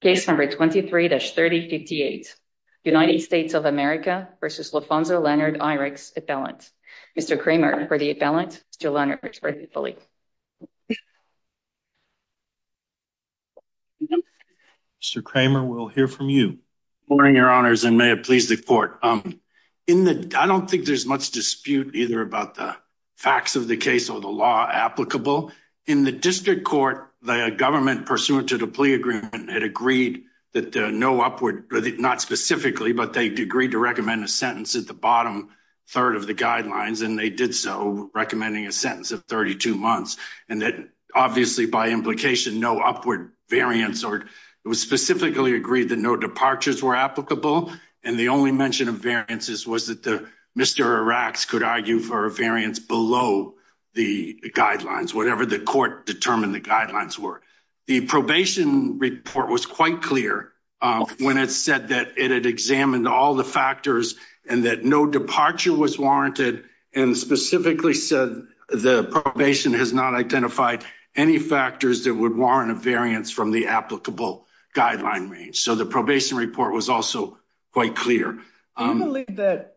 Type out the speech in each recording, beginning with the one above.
case number 23-3058. United States of America v. Lafonzo Leonard Iracks appellant. Mr. Kramer for the appellant, Mr. Leonard Iracks for the plea. Mr. Kramer, we'll hear from you. Good morning, your honors, and may it please the court. I don't think there's much dispute either about the facts of the case or the law applicable. In the district court, the government pursuant to the plea agreement had agreed that no upward, not specifically, but they agreed to recommend a sentence at the bottom third of the guidelines, and they did so, recommending a sentence of 32 months. And that obviously, by implication, no upward variance, or it was specifically agreed that no departures were applicable. And the only mention of variances was that the Mr. Iracks could argue for a variance below the guidelines, whatever the court determined the guidelines were. The probation report was quite clear when it said that it had examined all the factors and that no departure was warranted and specifically said the probation has not identified any factors that would warrant a variance from the applicable guideline range. So the probation report was also quite clear. Do you believe that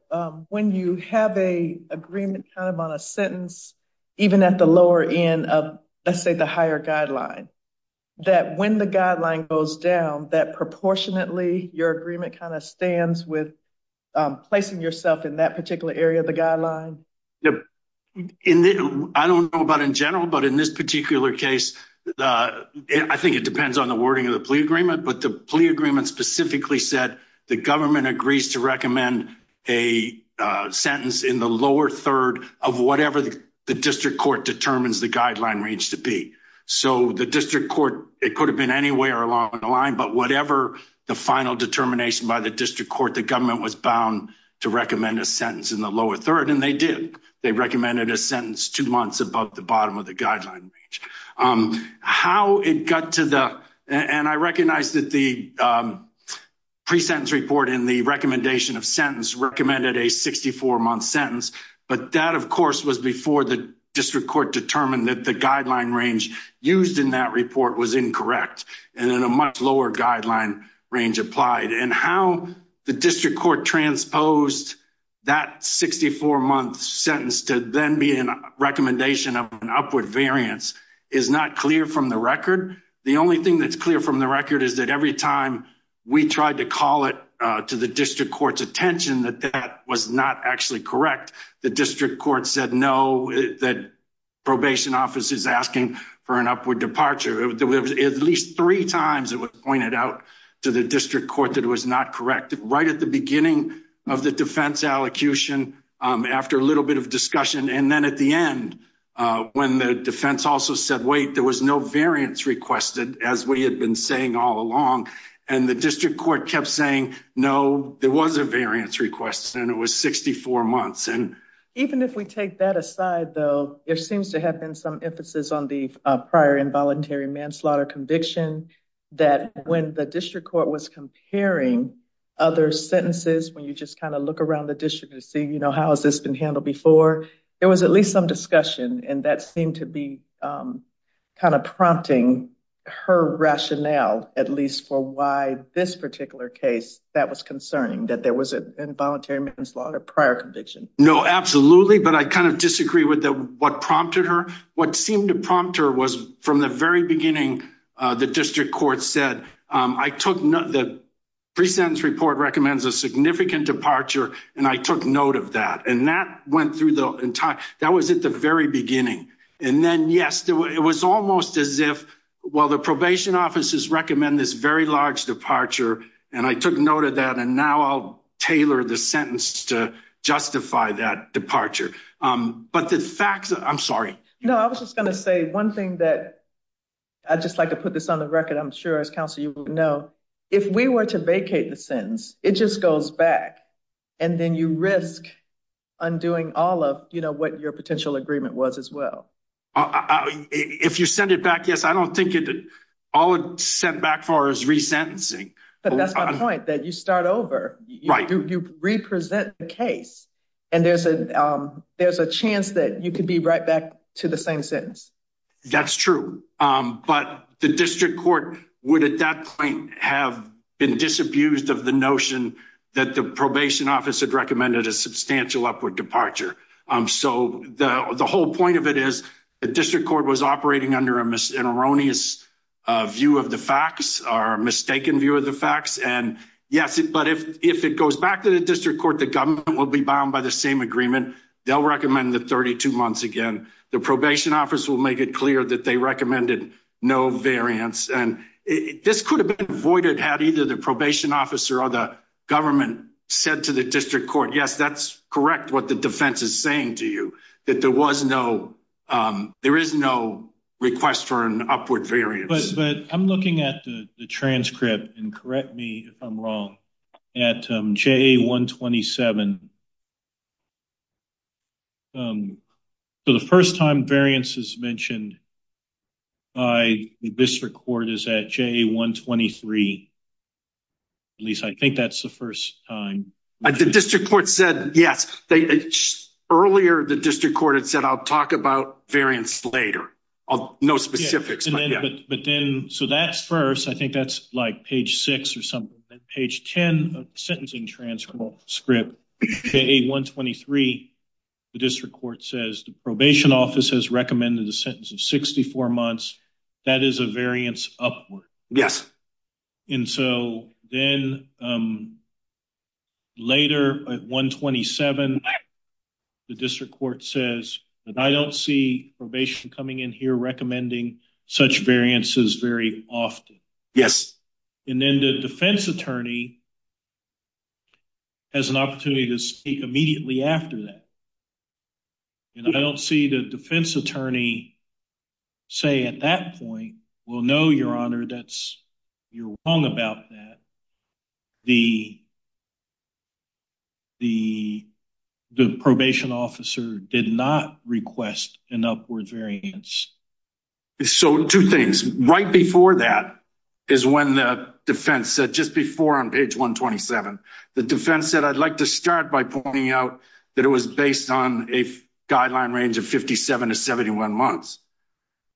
when you have a agreement kind of on a sentence, even at the lower end of, let's say, the higher guideline, that when the guideline goes down, that proportionately your agreement kind of stands with placing yourself in that particular area of the guideline? I don't know about in general, but in this particular case, I think it depends on the wording of the plea agreement, but the plea agreement specifically said the government agrees to recommend a sentence in the lower third of whatever the district court determines the guideline range to be. So the district court, it could have been anywhere along the line, but whatever the final determination by the district court, the government was bound to recommend a sentence in the lower third, and they did. They recommended a sentence two months above the bottom of the guideline range. How it got to the, and I recognize that the pre-sentence report in the recommendation of sentence recommended a 64-month sentence, but that, of course, was before the district court determined that the guideline range used in that report was incorrect and in a much lower guideline range applied. And how the district court transposed that 64-month sentence to then be a recommendation of an upward variance is not clear from the record. The only thing that's clear from the record is that every time we tried to call it to the district court's that that was not actually correct, the district court said no, that probation office is asking for an upward departure. At least three times it was pointed out to the district court that it was not correct. Right at the beginning of the defense allocution, after a little bit of discussion, and then at the end when the defense also said wait, there was no variance requested, as we had been saying all along, and the district court kept saying no, there was a variance requested, and it was 64 months. And even if we take that aside, though, it seems to have been some emphasis on the prior involuntary manslaughter conviction, that when the district court was comparing other sentences, when you just kind of look around the district to see, you know, how has this been handled before, there was at least some discussion, and that seemed to be kind of prompting her rationale, at least for why this particular case, that was concerning, that there was an involuntary manslaughter prior conviction. No, absolutely, but I kind of disagree with what prompted her. What seemed to prompt her was, from the very beginning, the district court said, I took note, the pre-sentence report recommends a significant departure, and I took note of that, and that went through the entire, that was at the very beginning. And then, yes, it was almost as if, well, the probation offices recommend this very large departure, and I took note of that, and now I'll tailor the sentence to justify that departure. But the facts, I'm sorry. No, I was just gonna say one thing that, I'd just like to put this on the record, I'm sure, as counsel, you know, if we were to vacate the sentence, it just goes back, and then you risk undoing all of, you know, what your potential agreement was as well. If you send it back, yes, I don't think it, all sent back for is resentencing. But that's my point, that you start over. Right. You represent the case, and there's a, there's a chance that you could be right back to the same sentence. That's true, but the district court would, at that point, have been disabused of the notion that the probation office had recommended a substantial upward departure. So, the whole point of it is, the district court was operating under an erroneous view of the facts, or a mistaken view of the facts, and yes, but if it goes back to the district court, the government will be bound by the same agreement. They'll recommend the 32 months again. The probation office will make it clear that they recommended no variance, and this could have been avoided had either the probation officer or the government said to the district court, yes, that's correct what the defense is saying to you, that there was no, there is no request for an upward variance. But, I'm looking at the transcript, and correct me if I'm wrong, at JA-127. So, the first time variance is mentioned by the district court is at JA-123. At least, I think that's the first time. The district court said, yes, they, earlier the district court had said, I'll talk about variance later. No specifics. But then, so that's first, I think that's like page six or something, then page ten of the sentencing transcript, JA-123, the district court says the probation office has recommended the sentence of 64 months. That is a variance upward. Yes. And so, then later at 127, the district court says, I don't see probation coming in here recommending such variances very often. Yes. And then the defense attorney has an opportunity to speak immediately after that. And I don't see the defense attorney say at that point, well, no, your honor, that's, you're wrong about that. The, the, the probation officer did not request an upwards variance. So, two things. Right before that is when the defense said, just before on page 127, the defense said, I'd like to start by pointing out that it was based on a 71 months.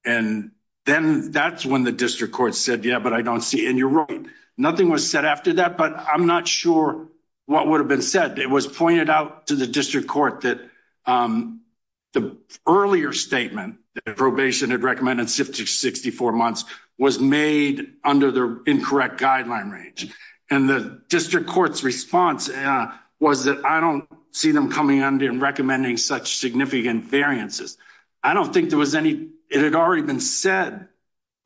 And then that's when the district court said, yeah, but I don't see it. And you're right. Nothing was said after that, but I'm not sure what would have been said. It was pointed out to the district court that the earlier statement that probation had recommended 64 months was made under the incorrect guideline range. And the district court's response was that I don't see them coming under and recommending such significant variances. I don't think there was any, it had already been said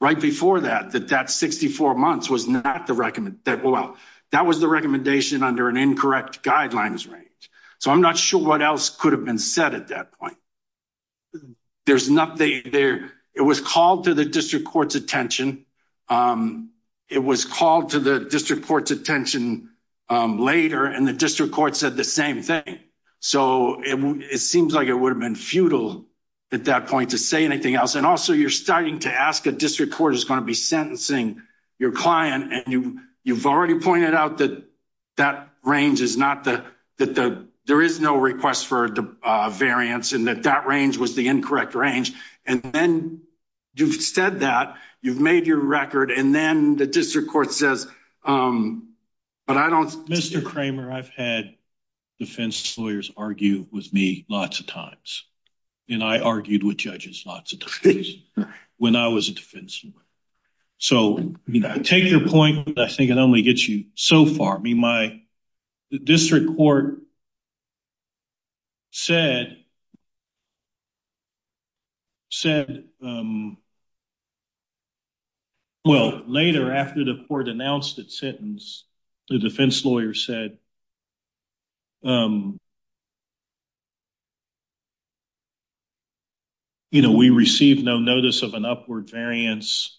right before that, that that 64 months was not the recommend that well, that was the recommendation under an incorrect guidelines range. So I'm not sure what else could have been said at that point. There's nothing there. It was called to the district court's attention. Um, it was called to the district court's attention, um, later and the district court said the same thing. So it seems like it would have been futile at that point to say anything else. And also you're starting to ask a district court is going to be sentencing your client and you, you've already pointed out that that range is not the, that the, there is no request for a variance and that that range was the incorrect range. And then you've said that you've made your record and then the district court says, um, but I don't, Mr Kramer, I've had defense lawyers argue with me lots of times and I argued with judges lots of times when I was a defense. So take your point, but I think it only gets you so far. I mean, my district court said, said, um, well, later after the court announced that sentence, the defense lawyer said, um, you know, we received no notice of an upward variance.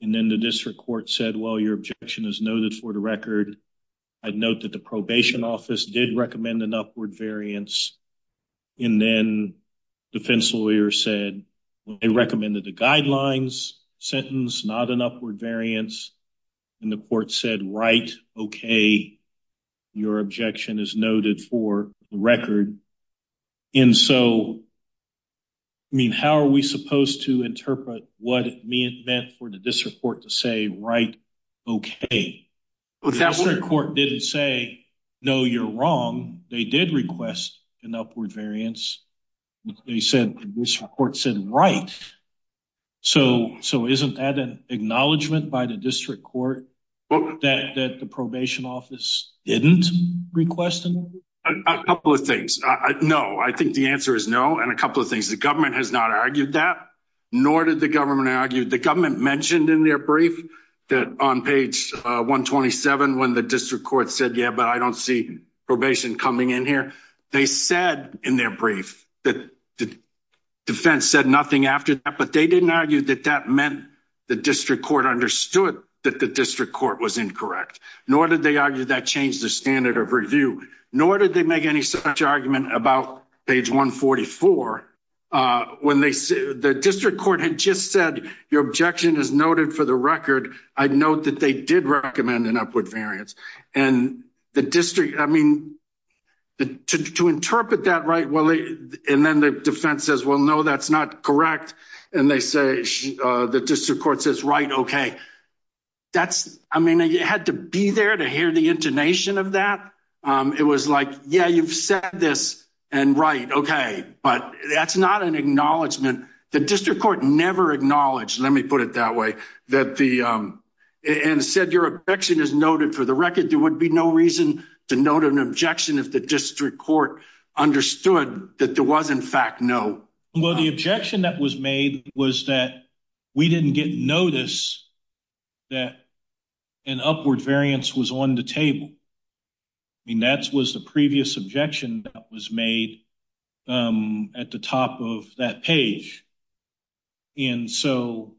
And then the district court said, well, your objection is noted for the record. I'd note that the probation office did recommend an upward variance. And then defense lawyers said they recommended the guidelines sentence, not an upward variance. And the court said, right. Okay. Your objection is noted for the record. And so, I mean, how are we supposed to interpret what it meant for the district court to say, right. Okay. The district court didn't say, no, you're wrong. They did request an upward variance. They said, this report said, right. So, so isn't that an acknowledgment by the district court that the probation office didn't request a couple of things? No, I think the answer is no. And a couple of things. The government has not argued that, nor did the government argued the government mentioned in their brief that on page 1 27 when the district court said, Yeah, but I don't see probation coming in here. They said in their brief that the defense said nothing after that. But they didn't argue that that meant the district court understood that the district court was incorrect, nor did they argue that changed the standard of review, nor did they make any such argument about page 1 44 when they the district court had just said, your objection is noted for the record. I'd note that they did recommend an upward variance and the district. I mean, to interpret that right. Well, and then the defense says, Well, no, that's not correct. And they say the district court says, right. Okay, that's I mean, you had to be there to hear the intonation of that. Um, it was like, Yeah, you've said this and right. Okay, but that's not an acknowledgement. The district court never acknowledged. Let me put it that way that the and said your objection is noted for the record. There would be no reason to note an objection if the district court understood that there was, in fact, no. Well, the objection that was made was that we didn't get notice that an upward variance was on the table. I mean, that was the previous objection that was made, um, at the top of that page. And so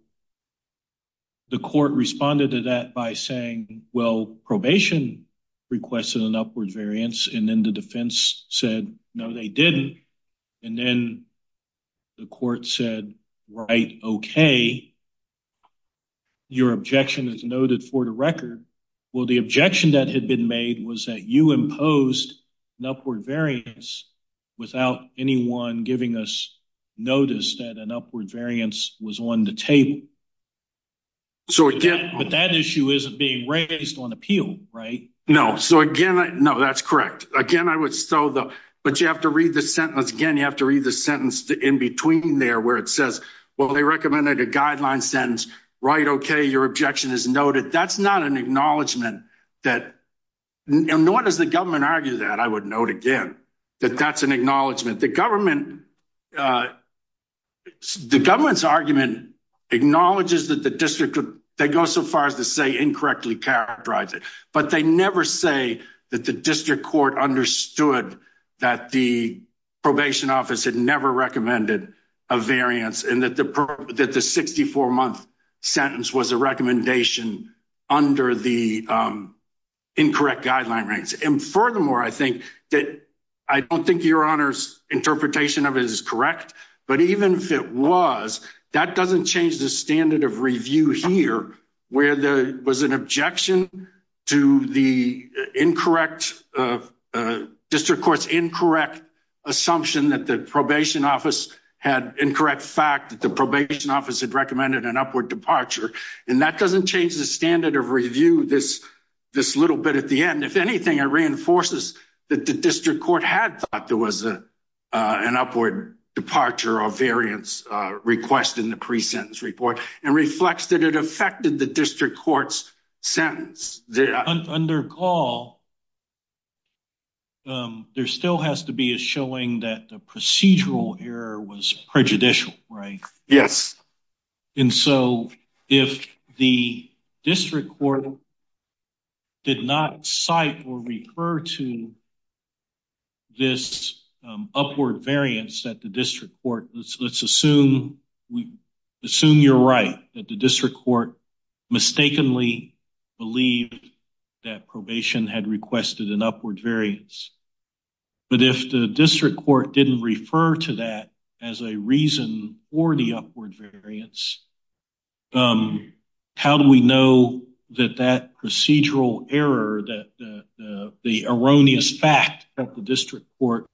the court responded to that by saying, Well, probation requested an upward variance, and then the defense said, No, they didn't. And then the court said, right. Okay, your objection is noted for the record. Well, the objection that had been made was that you imposed upward variance without anyone giving us notice that an upward variance was on the table. So again, that issue isn't being raised on appeal, right? No. So again, no, that's correct. Again, I would still though. But you have to read the sentence again. You have to read the sentence in between there, where it says, well, they recommended a guideline sentence, right? Okay, your objection is that nor does the government argue that I would note again that that's an acknowledgment. The government, uh, the government's argument acknowledges that the district they go so far as to say incorrectly characterized it. But they never say that the district court understood that the probation office had never recommended a variance and that that the 64 month sentence was a recommendation under the, um, incorrect guideline ranks. And furthermore, I think that I don't think your honor's interpretation of it is correct. But even if it was, that doesn't change the standard of review here, where there was an objection to the incorrect, uh, district court's incorrect assumption that the probation office had incorrect fact that the probation office had recommended an upward departure. And that doesn't change the standard of review. This this little bit at the end, if anything, it reinforces that the district court had thought there was, uh, an upward departure of variance request in the precincts report and reflects that it affected the district court's sentence under call. Um, there still has to be a showing that the procedural error was prejudicial, right? Yes. And so if the district court did not cite or refer to this upward variance that the district court, let's assume we assume you're right, that the district court mistakenly believe that probation had requested an upward variance. But if the district court didn't refer to that as a reason for the upward variance, um, how do we know that that procedural error that the erroneous fact that the district court,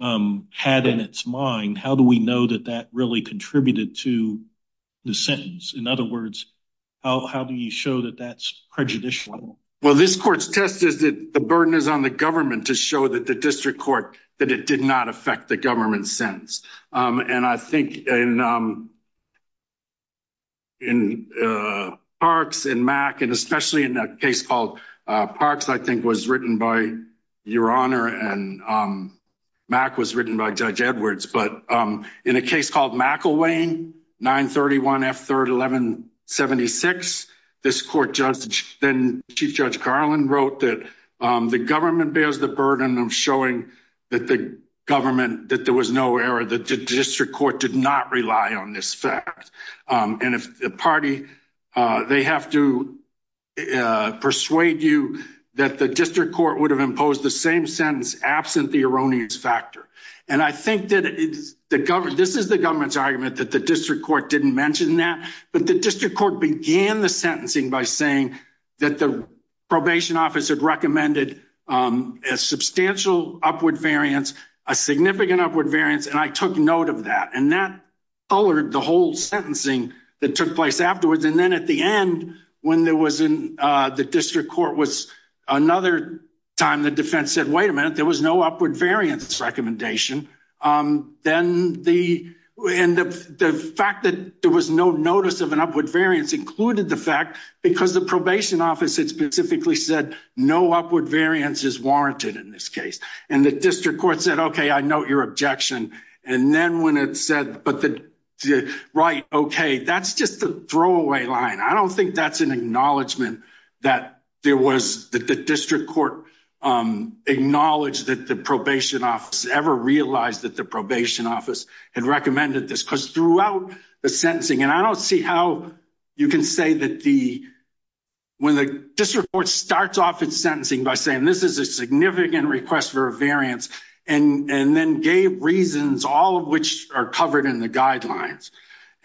um, had in its mind? How do we know that that really contributed to the sentence? In other words, how do you show that that's prejudicial? Well, this court's test is that the burden is on the government to show that the district court that it did not affect the government sentence. Um, and I think, um, in, uh, parks and Mac, and especially in that case called Parks, I think, was written by Judge Edwards. But, um, in a case called McElwain, 9 31 F 3rd 11 76. This court judge, then Chief Judge Carlin wrote that the government bears the burden of showing that the government that there was no error that the district court did not rely on this fact. Um, and if the party, uh, they have to, uh, persuade you that the district court would have imposed the same sentence absent the erroneous factor. And I think that the government this is the government's argument that the district court didn't mention that. But the district court began the sentencing by saying that the probation office had recommended, um, a substantial upward variance, a significant upward variance. And I took note of that. And that colored the whole sentencing that took place afterwards. And then at the end, when there was in the district court was another time, the defense said, Wait a minute. There was no upward variance recommendation. Um, then the end of the fact that there was no notice of an upward variance included the fact because the probation office, it specifically said no upward variance is warranted in this case. And the district court said, Okay, I know your objection. And then when it said, but the right. Okay, that's just a throw away line. I don't think that's an acknowledgement that there was that the district court, um, acknowledged that the probation office ever realized that the probation office had recommended this because throughout the sentencing and I don't see how you can say that the when the district court starts off its sentencing by saying this is a significant request for a variance and then gave reasons, all of which are covered in the guidelines.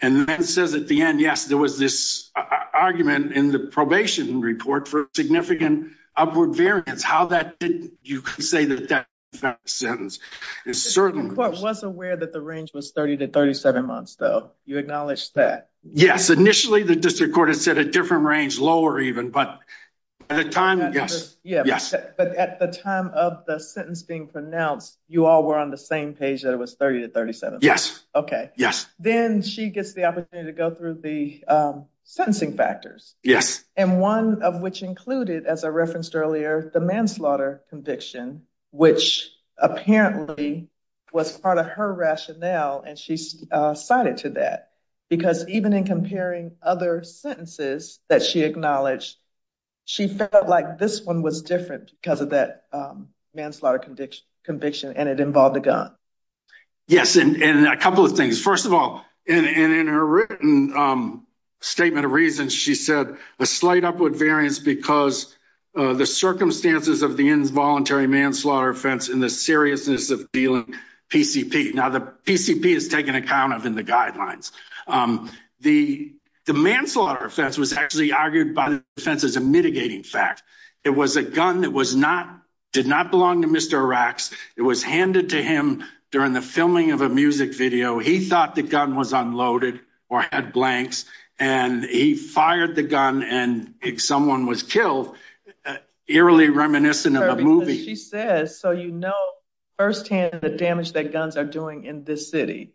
And it says at the end, yes, there was this argument in the probation report for significant upward variance. How that didn't you say that that sentence is certain court was aware that the range was 30 to 37 months, though you acknowledge that? Yes. Initially, the district court has set a different range lower even. But at the time, yes, yes. But at the time of the sentence being pronounced, you all were on the same page that it was 30 to 37. Yes. Okay. Yes. Then she gets the opportunity to go through the sentencing factors. Yes. And one of which included as I referenced earlier, the manslaughter conviction, which apparently was part of her rationale. And she's cited to that because even in comparing other sentences that she acknowledged, she felt like this one was different because of that, um, manslaughter conviction conviction, and it involved a gun. Yes. And a couple of things. First of all, and in her written, um, statement of reasons, she said a slight upward variance because the circumstances of the involuntary manslaughter offense in the seriousness of dealing PCP. Now the PCP is taken account of in the guidelines. Um, the manslaughter offense was actually argued by the defense is a mitigating fact. It was a gun that was not did not belong to Mr. Iraq's. It was handed to him during the filming of a music video. He thought the gun was unloaded or had blanks, and he fired the gun. And if someone was killed eerily reminiscent of a movie, she says. So, you know, firsthand the damage that guns are doing in this city.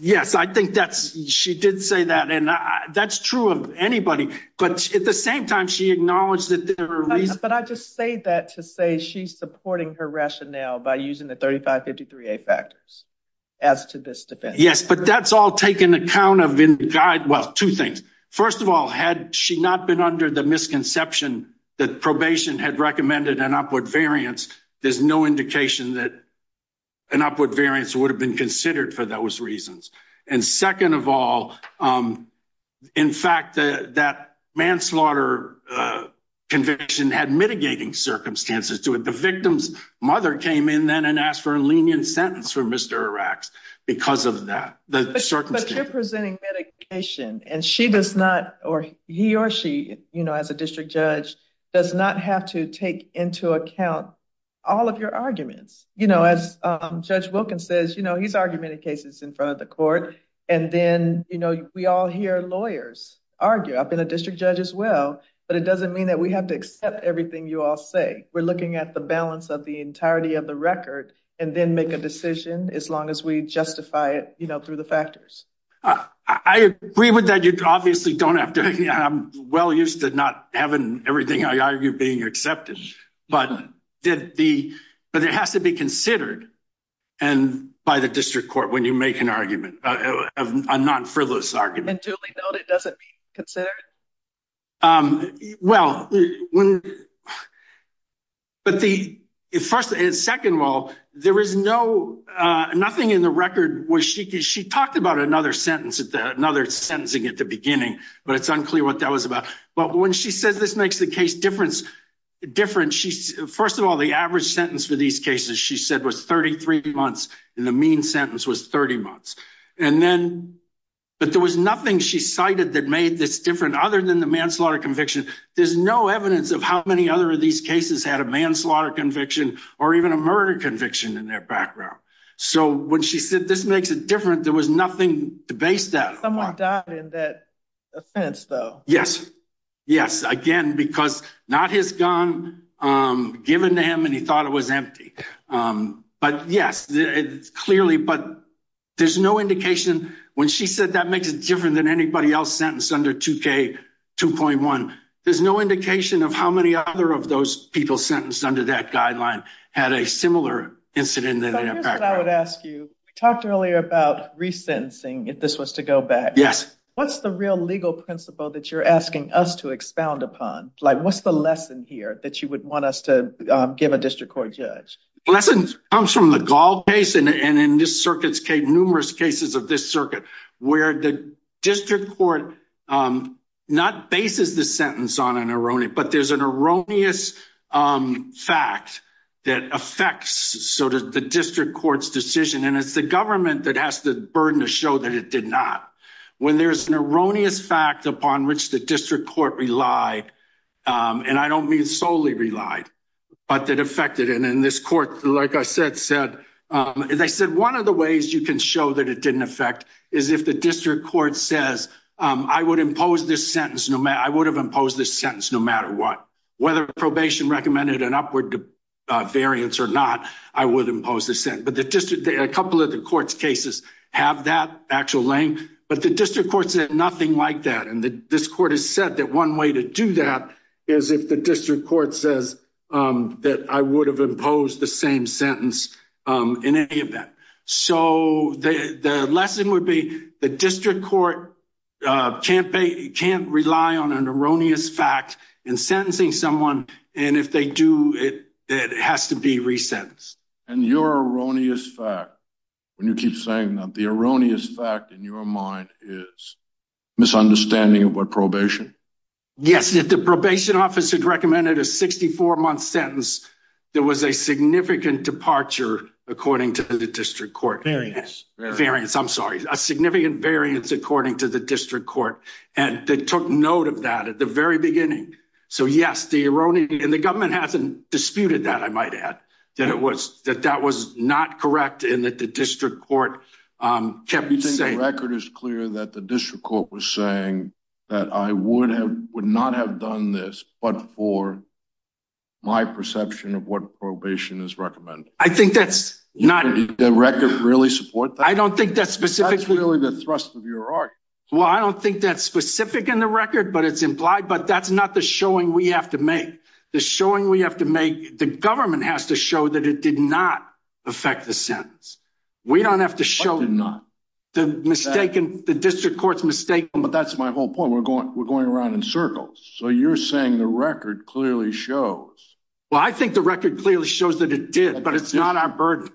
Yes, I think that's she did say that. And that's true of anybody. But at the same time, she acknowledged that there are reasons. But I just say that to a she's supporting her rationale by using the 35 53 a factors as to this defense. Yes, but that's all taken account of in guide. Well, two things. First of all, had she not been under the misconception that probation had recommended an upward variance, there's no indication that an upward variance would have been considered for those reasons. And second of all, um, in fact, that manslaughter conviction had mitigating circumstances to it. The victim's mother came in then and asked for a lenient sentence for Mr Iraq's because of that certain presenting medication. And she does not or he or she, you know, as a district judge does not have to take into account all of your arguments. You know, as Judge Wilkins says, you know, he's argument in front of the court. And then, you know, we all hear lawyers argue up in the district judge as well. But it doesn't mean that we have to accept everything you all say. We're looking at the balance of the entirety of the record and then make a decision as long as we justify it, you know, through the factors. I agree with that. You obviously don't have to. I'm well used to not having everything I argue being accepted. But did the but it has to be when you make an argument of a non frivolous argument, doesn't consider Um, well, when but the first and second, well, there is no, uh, nothing in the record where she could. She talked about another sentence at another sentencing at the beginning, but it's unclear what that was about. But when she says this makes the case difference different. She's first of all, the average sentence for these cases, she said, was 33 months in the mean sentence was 30 months. And then, but there was nothing she cited that made this different other than the manslaughter conviction. There's no evidence of how many other of these cases had a manslaughter conviction or even a murder conviction in their background. So when she said this makes it different, there was nothing to base that someone died in that offense, though. Yes, yes. Again, because not his um, given to him and he thought it was empty. Um, but yes, clearly. But there's no indication when she said that makes it different than anybody else sentenced under two K 2.1. There's no indication of how many other of those people sentenced under that guideline had a similar incident that I would ask you talked earlier about resentencing if this was to go back. Yes. What's the real legal principle that you're asking us to expound upon? Like, what's the lesson here that you would want us to give a district court judge? Lessons comes from the gall case. And in this circuit's cave, numerous cases of this circuit where the district court, um, not bases the sentence on an erroneous, but there's an erroneous, um, fact that affects sort of the district court's decision. And it's the government that has the burden to show that it did not when there's an erroneous fact upon which the district court relied. Um, and I don't mean solely relied, but that affected and in this court, like I said, said, um, they said one of the ways you can show that it didn't affect is if the district court says, um, I would impose this sentence. No, I would have imposed this sentence no matter what, whether probation recommended an upward to variants or not, I would impose this in. But the district, a couple of the court's cases have that actual length, but the district court said nothing like that. And this court has said that one way to do that is if the district court says, um, that I would have imposed the same sentence, um, in any of that. So the lesson would be the district court, uh, campaign can't rely on an erroneous fact and sentencing someone. And if they do it, it has to be keep saying that the erroneous fact in your mind is misunderstanding of what probation. Yes, that the probation office had recommended a 64 month sentence. There was a significant departure, according to the district court variance variance. I'm sorry, a significant variance, according to the district court. And they took note of that at the very beginning. So, yes, the erroneous and the government hasn't disputed that. I might add that it was that that was not correct in that the district court, um, kept saying record is clear that the district court was saying that I would have would not have done this. But for my perception of what probation is recommended, I think that's not the record really support. I don't think that's specific. Really, the thrust of your art. Well, I don't think that's specific in the record, but it's implied. But that's not the showing we have to make the showing we have to make the government has to show that it did not affect the sentence. We don't have to show not mistaken. The district court's mistake. But that's my whole point. We're going. We're going around in circles. So you're saying the record clearly shows? Well, I think the record clearly shows that it did, but it's not our bird.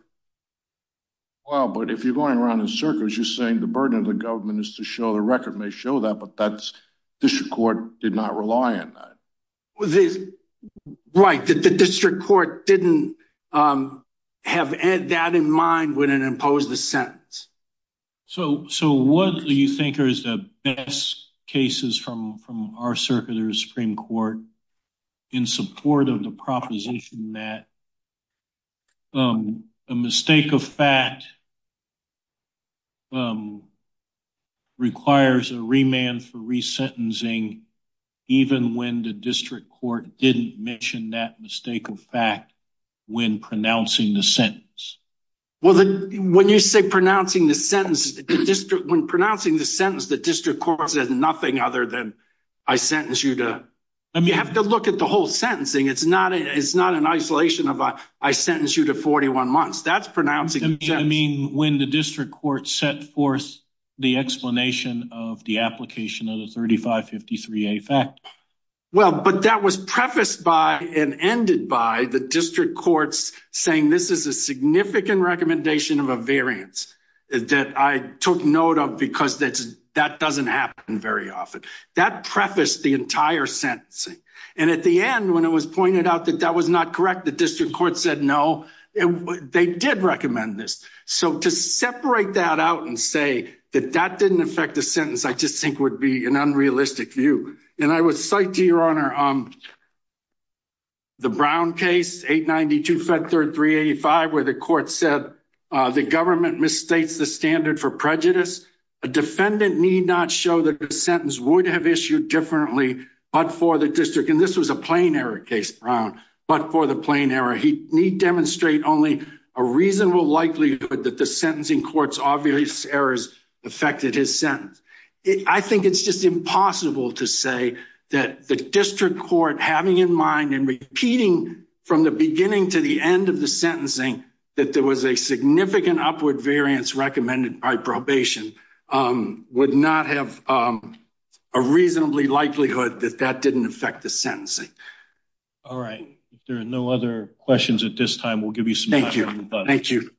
Well, but if you're going around in circles, you're saying the burden of the government is to show the record may show that. But that's the court did not rely on this, right? That the district court didn't, um, have that in mind when it imposed the sentence. So So what do you think? There is the best cases from from our circular Supreme Court in support of the proposition that, um, a even when the district court didn't mention that mistake of fact when pronouncing the sentence. Well, when you say pronouncing the sentence district when pronouncing the sentence, the district court says nothing other than I sentence you toe. You have to look at the whole sentencing. It's not. It's not an isolation of I sentence you to 41 months. That's pronouncing. I mean, when the district court set forth the explanation of the application of the 35 53 a fact. Well, but that was prefaced by and ended by the district courts saying this is a significant recommendation of a variance that I took note of because that's that doesn't happen very often. That prefaced the entire sentencing. And at the end, when it was pointed out that that was not correct, the district court said no, they did recommend this. So to separate that out and say that that didn't affect the sentence, I just think would be an unrealistic view. And I was psyched to your honor. Um, the Brown case 8 92 Fed 3 3 85, where the court said the government misstates the standard for prejudice. A defendant need not show that the sentence would have issued differently, but for the district, and this was a plain error case around, but for the plain error, he need demonstrate only a reasonable likelihood that the sentencing court's obvious errors affected his sentence. I think it's just impossible to say that the district court having in mind and repeating from the beginning to the end of the sentencing that there was a significant upward variance recommended by probation, um, would not have, um, a reasonably likelihood that that didn't affect the sentencing. All right. There are no other questions at this time. We'll give you some. Thank you. Thank you. Thank you.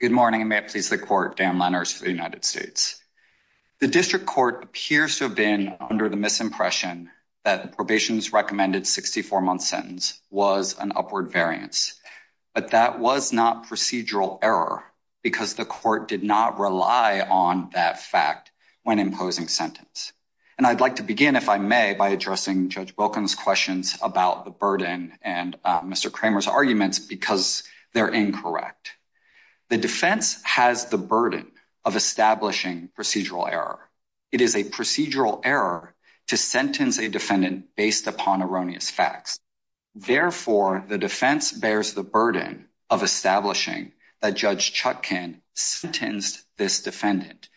Good morning. May it please the court. Dan Lenners for the United States. The district court appears to have been under the misimpression that probation is recommended. 64 month sentence was an upward variance, but that was not procedural error because the court did not rely on that fact when imposing sentence. And I'd like to begin, if I may, by addressing Judge Wilkins questions about the burden and Mr Kramer's arguments because they're incorrect. The defense has the burden of establishing procedural error. It is a procedural error to sentence a defendant based upon erroneous facts. Therefore, the defense bears the burden of establishing that Judge Chuck can sentenced this defendant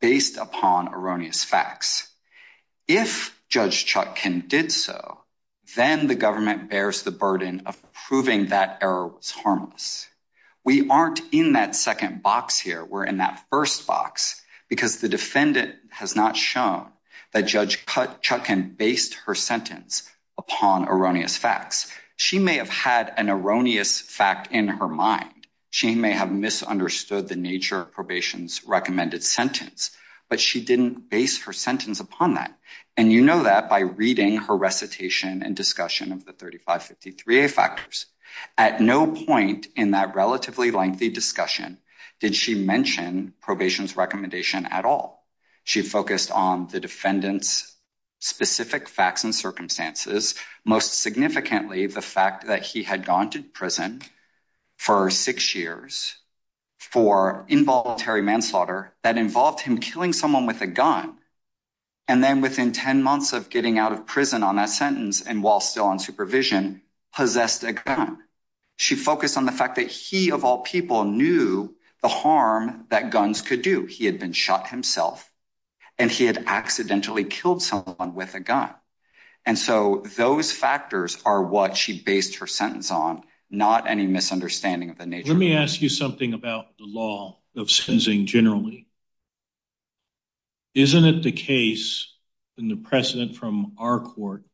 based upon erroneous facts. If Judge Chuck can did so, then the government bears the burden of proving that error was harmless. We aren't in that second box here. We're in that first box because the defendant has not shown that Judge Cut Chuck and based her sentence upon erroneous facts. She may have had an erroneous fact in her mind. She may have misunderstood the nature of probation's recommended sentence, but she didn't base her sentence upon that. And you know that by reading her recitation and discussion of the 35 53 a factors at no point in that relatively lengthy discussion, did she mention probation's recommendation at all? She focused on the defendant's specific facts and circumstances. Most significantly, the fact that he had gone to prison for six years for involuntary manslaughter that involved him killing someone with a gun. And then within 10 months of getting out of prison on that sentence and while still on supervision possessed a gun, she focused on the fact that he of all people knew the harm that guns could do. He had been shot himself and he had accidentally killed someone with a gun. And so those factors are what she based her sentence on. Not any misunderstanding of the nature. Let me ask you something about the law of sensing generally. Isn't it the case in the precedent from our court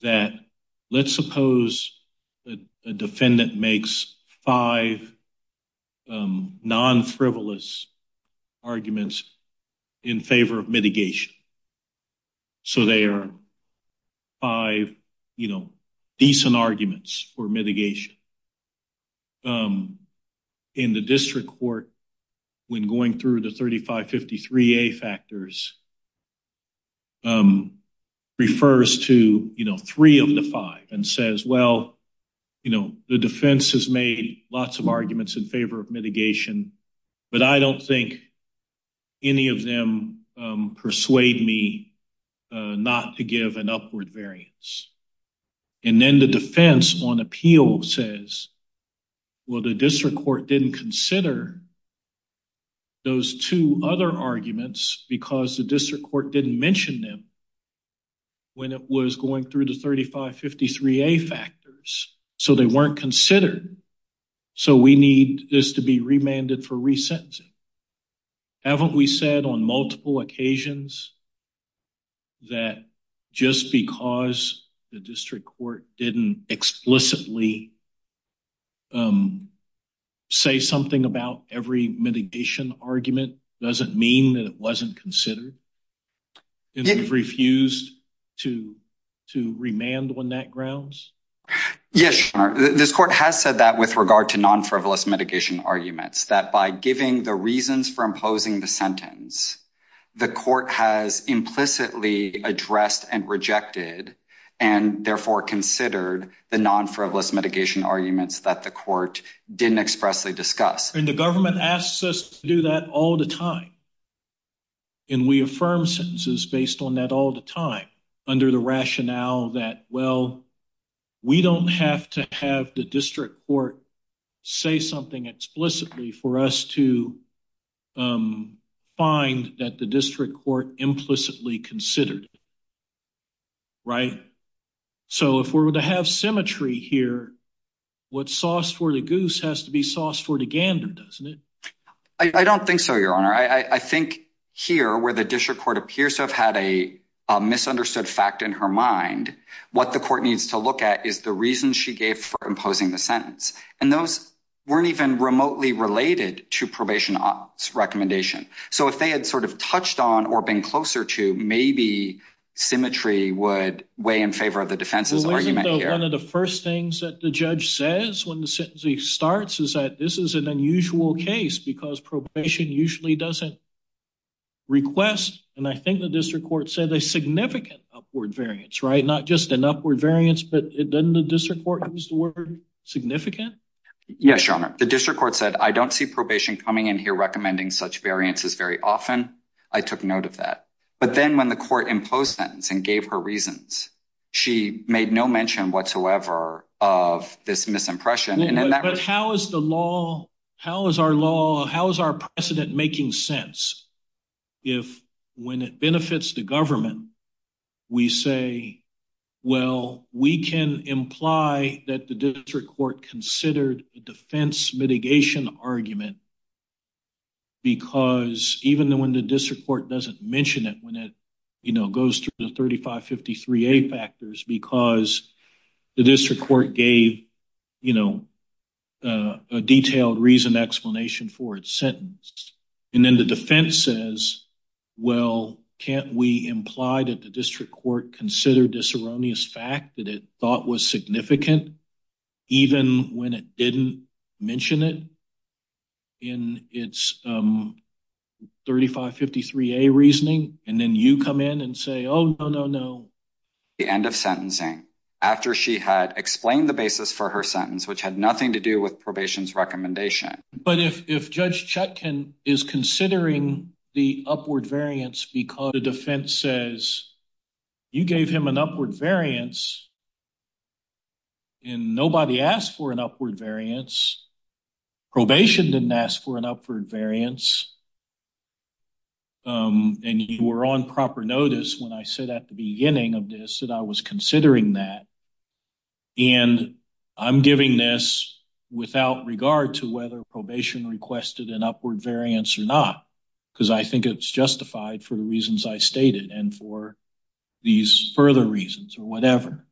that let's suppose the defendant makes five arguments in favor of mitigation? So they're five, you know, decent arguments for mitigation. Um, in the district court, when going through the 35 53 a factors, um, refers to, you know, three of the five and says, Well, you know, the defense has made lots of arguments in favor of mitigation, but I don't think any of them persuade me not to give an upward variance. And then the defense on appeal says, Well, the district court didn't consider those two other arguments because the district court didn't mention them when it was going through the 35 53 a factors. So they weren't considered. So we need this to be remanded for resentencing. Haven't we said on multiple occasions that just because the district court didn't explicitly, um, say something about every mitigation argument doesn't mean that it wasn't considered and refused to to remand when that grounds? Yes, this court has said that with regard to non frivolous mitigation arguments that by giving the reasons for imposing the sentence, the court has implicitly addressed and rejected and therefore considered the non frivolous mitigation arguments that the court didn't expressly discuss. And the government asks us to do that all the time. And we affirm sentences based on that all the time under the rationale that, well, we don't have to have the district court say something explicitly for us to, um, find that the district court implicitly considered. Right. So if we're going to have symmetry here, what sauce for the goose has to be sauce for the gander, doesn't it? I don't think so, Your Honor. I think here where the district court appears to have had a misunderstood fact in her mind, what the court needs to look at is the reason she gave for imposing the sentence, and those weren't even remotely related to probation office recommendation. So if they had sort of touched on or been closer to, maybe symmetry would weigh in favor of the defense's argument. One of the first things that the judge says when the sentencing starts is that this is an unusual case because probation usually doesn't request. And I think the district court said a significant upward variance, right? Not just an upward variance, but it doesn't. The district court used the word significant. Yes, Your Honor. The district court said, I don't see probation coming in here recommending such variances very often. I took note of that. But then when the court imposed sentence and gave her reasons, she made no mention whatsoever of this misimpression. But how is the law? How is our law? How is our precedent making sense? If when it benefits the government, we say, well, we can imply that the district court considered defense mitigation argument because even when the district court doesn't mention it when it, you know, goes to the 35 53 a factors because the district court gave, you know, a explanation for its sentence. And then the defense says, well, can't we imply that the district court considered this erroneous fact that it thought was significant even when it didn't mention it in its, um, 35 53 a reasoning. And then you come in and say, Oh, no, no, no. The end of sentencing after she had explained the basis for her sentence, which had nothing to do with probation's recommendation. But if Judge Chetkin is considering the upward variance because the defense says you gave him an upward variance and nobody asked for an upward variance, probation didn't ask for an upward variance. Um, and you were on proper notice when I said at the beginning of this that I was considering that and I'm giving this without regard to whether probation requested an upward variance or not, because I think it's justified for the reasons I stated and for these further reasons or whatever.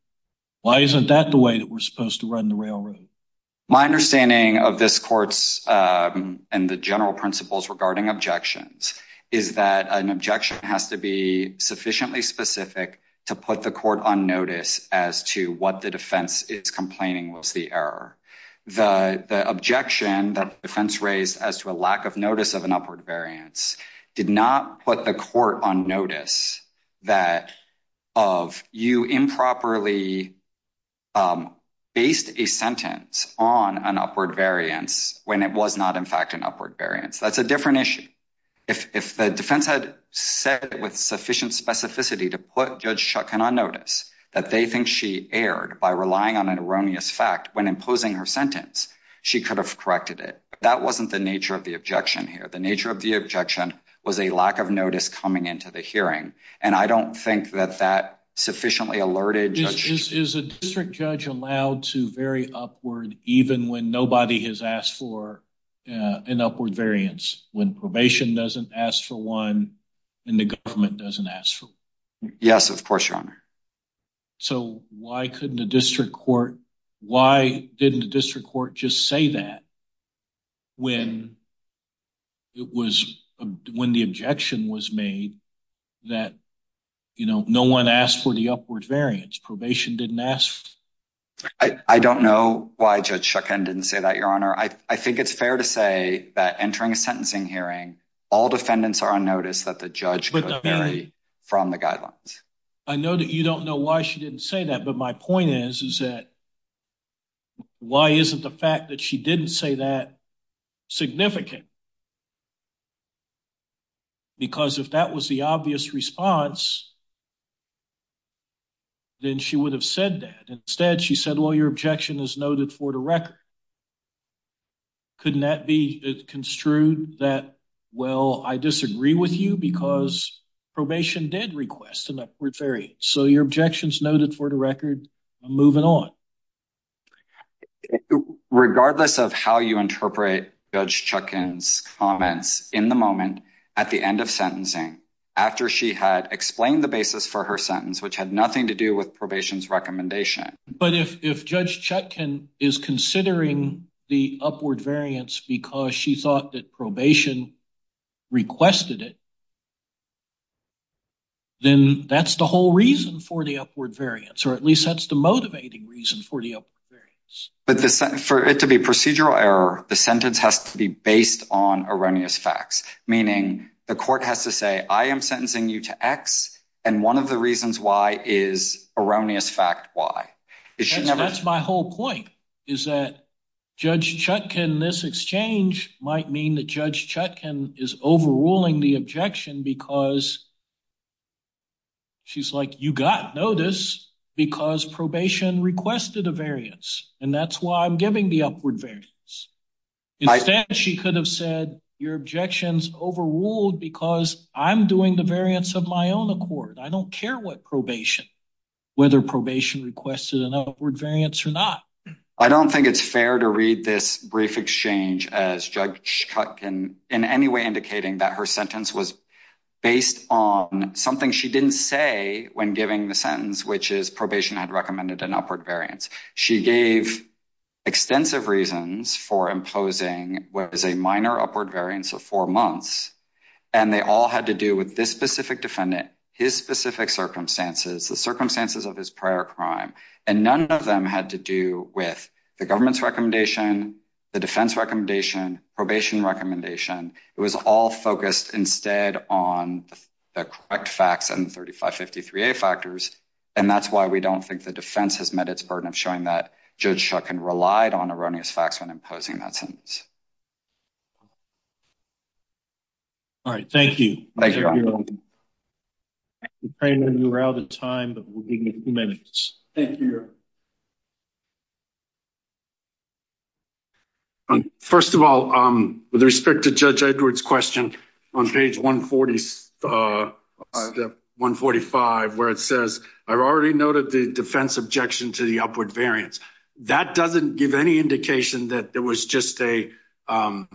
Why isn't that the way that we're supposed to run the railroad? My understanding of this court's, um, and the general principles regarding objections is that an objection has to be sufficiently specific to put the court on notice as to what the defense is complaining was the error. The objection that defense raised as to a lack of notice of an upward variance did not put the court on notice that of you improperly, um, based a sentence on an upward variance when it was not, in fact, an upward variance. That's a different issue. If the defense had said with sufficient specificity to put Judge Chuck cannot notice that they think she aired by relying on an erroneous fact when imposing her sentence, she could have corrected it. That wasn't the nature of the objection here. The nature of the objection was a lack of notice coming into the hearing, and I don't think that that sufficiently alerted is a district judge allowed to very upward even when nobody has asked for an upward variance when probation doesn't ask for one and the government doesn't ask for. Yes, of course, your honor. So why couldn't the district court? Why didn't the district court just say that when it was when the objection was made that, you know, no one asked for the upward variance. Probation didn't ask. I don't know why Judge Chuck and didn't say that, your honor. I think it's fair to say that entering a sentencing hearing, all defendants are on notice that the judge very from the guidelines. I know that you don't know why she didn't say that. But my point is, is that why isn't the fact that she didn't say that significant? Because if that was the obvious response, then she would have said that. Instead, she said, Well, your objection is noted for the record. Couldn't that be construed that? Well, I disagree with you because probation did request an upward ferry. So your objections noted for the record moving on, regardless of how you interpret Judge Chuck and comments in the moment at the end of sentencing after she had explained the basis for her sentence, which had nothing to do with probation's recommendation. But if if Judge Chuck can is considering the upward variance because she thought that probation requested it, then that's the whole reason for the upward variance, or at least that's the motivating reason for the up. But for it to be procedural error, the sentence has to be based on erroneous facts, meaning the court has to say I am sentencing you to X. And one of the whole point is that Judge Chuck in this exchange might mean that Judge Chuck and is overruling the objection because she's like you got notice because probation requested a variance, and that's why I'm giving the upward variance. Instead, she could have said your objections overruled because I'm doing the variance of my own accord. I don't care what probation, whether probation requested an upward variance or not. I don't think it's fair to read this brief exchange as Judge Chuck can in any way indicating that her sentence was based on something she didn't say when giving the sentence, which is probation had recommended an upward variance. She gave extensive reasons for imposing what is a minor upward variance of four months, and they all had to do with this specific defendant, his specific circumstances, the circumstances of his prior crime, and none of them had to do with the government's recommendation, the defense recommendation, probation recommendation. It was all focused instead on the correct facts and 35 53 a factors, and that's why we don't think the defense has met its burden of showing that Judge Chuck and relied on erroneous facts when imposing that sentence. All right. Thank you. Thank you. You're on. I know you're out of time, but we'll give you a few minutes. Thank you. First of all, with respect to Judge Edward's question on page 140, uh, 145, where it says, I've already noted the defense objection to the upward variance. That doesn't give any indication that there was just a, um,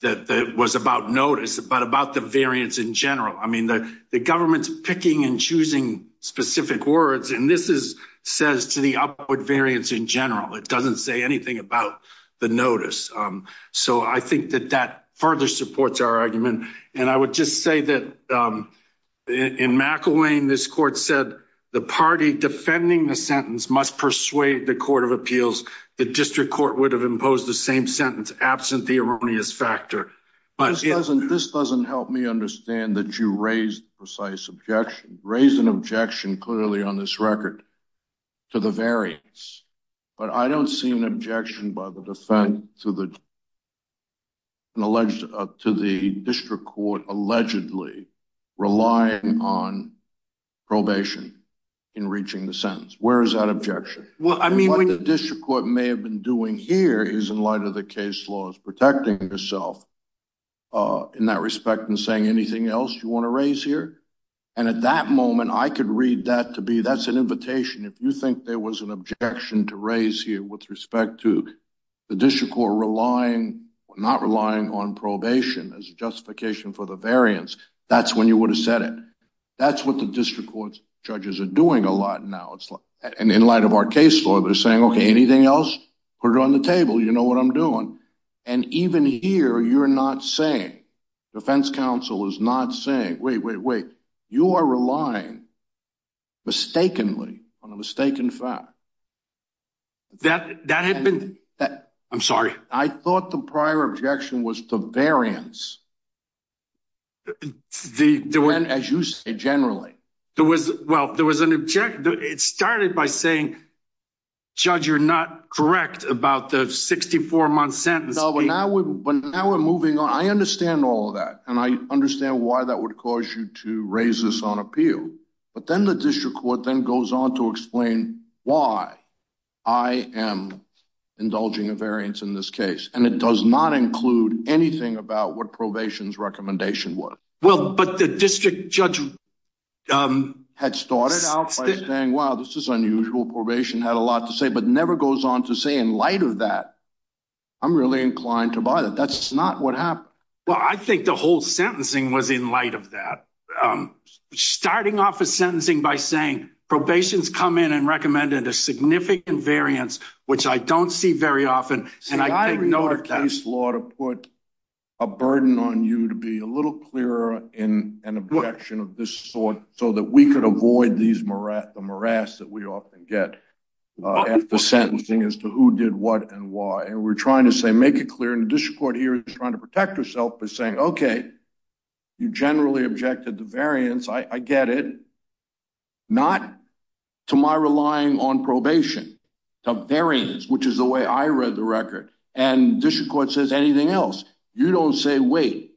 that was about notice about about the variance in general. I mean, the government's picking and choosing specific words, and this is says to the upward variance in general. It doesn't say anything about the notice. Um, so I think that that further supports our argument. And I would just say that, um, in McElwain, this court said the party defending the sentence must persuade the court of appeals. The district court would have imposed the same factor. But this doesn't help me understand that you raised precise objection, raised an objection clearly on this record to the variance. But I don't see an objection by the defense to the alleged to the district court, allegedly relying on probation in reaching the sentence. Where is that objection? Well, I mean, what the district court may have been doing here is in light of the case laws protecting yourself, uh, in that respect and saying anything else you want to raise here. And at that moment, I could read that to be. That's an invitation. If you think there was an objection to raise here with respect to the district or relying, not relying on probation as justification for the variance, that's when you would have said it. That's what the district court judges are doing a lot now. It's like, and in light of our case law, they're saying, Okay, anything else put on the table? You know what I'm doing? And even here, you're not saying defense counsel is not saying, Wait, wait, wait, you are relying mistakenly on a mistaken fact that that had been that I'm sorry. I thought the prior objection was the variance. The one, as you say, generally, there was. Well, there was an object. It was not correct about the 64 month sentence. But now we're moving on. I understand all that, and I understand why that would cause you to raise this on appeal. But then the district court then goes on to explain why I am indulging a variance in this case, and it does not include anything about what probation's recommendation was. Well, but the district judge, um, had started out saying, Wow, this is unusual. Probation had a lot to say, but never goes on to say. In light of that, I'm really inclined to buy that. That's not what happened. Well, I think the whole sentencing was in light of that, um, starting off a sentencing by saying probation's come in and recommended a significant variance, which I don't see very often. And I didn't know the case law to put a burden on you to be a little clearer in an objection of this sort so that we could avoid these more at the often get at the sentencing as to who did what and why. And we're trying to say, make it clear in the district court here is trying to protect herself by saying, Okay, you generally objected the variance. I get it not to my relying on probation, the variance, which is the way I read the record and district court says anything else. You don't say wait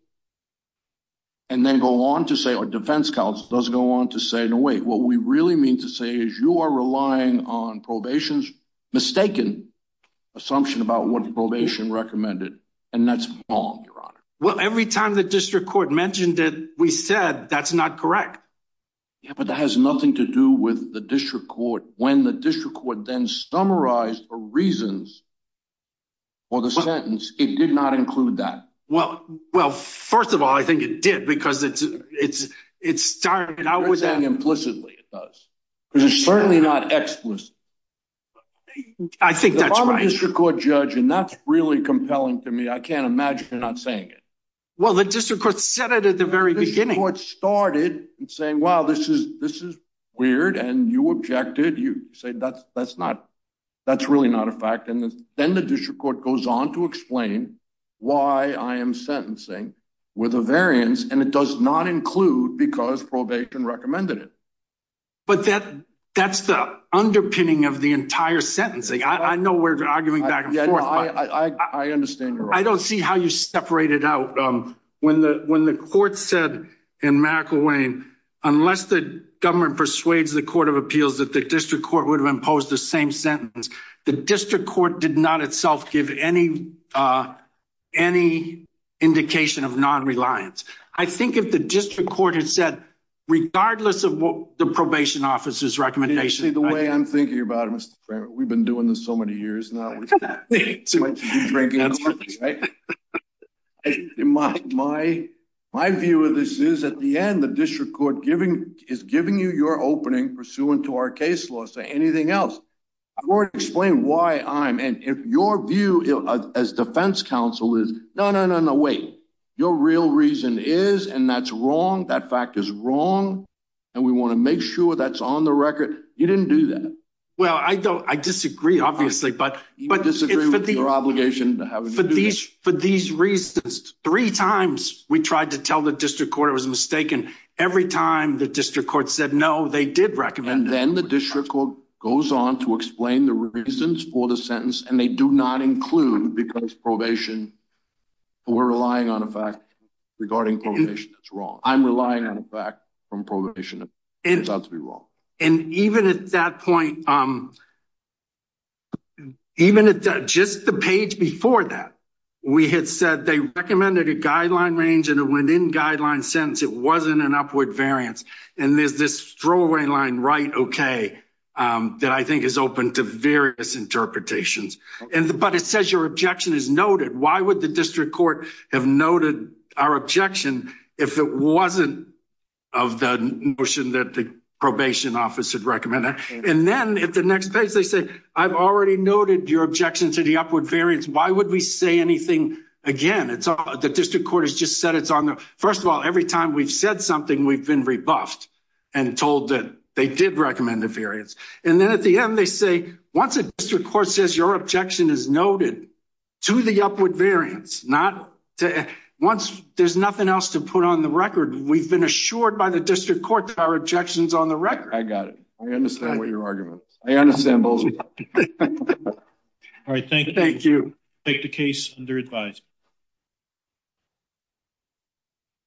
and then go on to say our defense counsel doesn't go on to say no. Wait. What we really mean to say is you are relying on probation's mistaken assumption about what probation recommended, and that's wrong. Your honor. Well, every time the district court mentioned it, we said that's not correct. But that has nothing to do with the district court. When the district would then summarized reasons or the sentence, it did not include that. Well, well, first of all, I it does because it's certainly not explicit. I think that's a district court judge, and that's really compelling to me. I can't imagine not saying it. Well, the district court said it at the very beginning. What started saying, Wow, this is this is weird. And you objected. You say that's that's not that's really not a fact. And then the district court goes on to explain why I am sentencing with a variance, and it does not include because probation recommended it. But that that's the underpinning of the entire sentencing. I know we're arguing back and forth. I understand. I don't see how you separated out when the when the court said in McElwain, unless the government persuades the court of appeals that the district court would have imposed the same sentence. The district court did not itself give any, uh, any indication of non reliance. I think if the district court had said, regardless of the probation officer's recommendation, the way I'm thinking about it, Mr. Frank, we've been doing this so many years now. In my my my view of this is at the end, the district court giving is giving you your opening pursuant to our case law. Say anything else or explain why I'm and if your view as defense counsel is no, no, no, no. Wait, your real reason is and that's wrong. That fact is wrong. And we want to make sure that's on the record. You didn't do that. Well, I don't. I disagree, obviously, but but disagree with the obligation to have these for these reasons. Three times we tried to tell the district court was mistaken. Every time the district court said no, they did recommend. And then the district court goes on to explain the reasons for the sentence, and they do not include because probation. We're relying on a fact regarding probation. That's wrong. I'm relying on fact from probation. It's not to be wrong. And even at that point, even at just the page before that, we had said they recommended a guideline range and it went in guideline sentence. It wasn't an upward variance. And there's this throwaway line, right? Okay, that I think is open to various interpretations. And but it says your objection is noted. Why would the district court have noted our of the motion that the probation office had recommended? And then at the next page, they say, I've already noted your objection to the upward variance. Why would we say anything again? It's the district court has just said it's on the first of all, every time we've said something, we've been rebuffed and told that they did recommend the variance. And then at the end, they say, once a district court says your objection is noted to the upward variance, not to once there's nothing else to put on the record. We've been assured by the district court that our objections on the record. I got it. I understand what your arguments. I understand both. All right. Thank you. Thank you. Take the case under advised.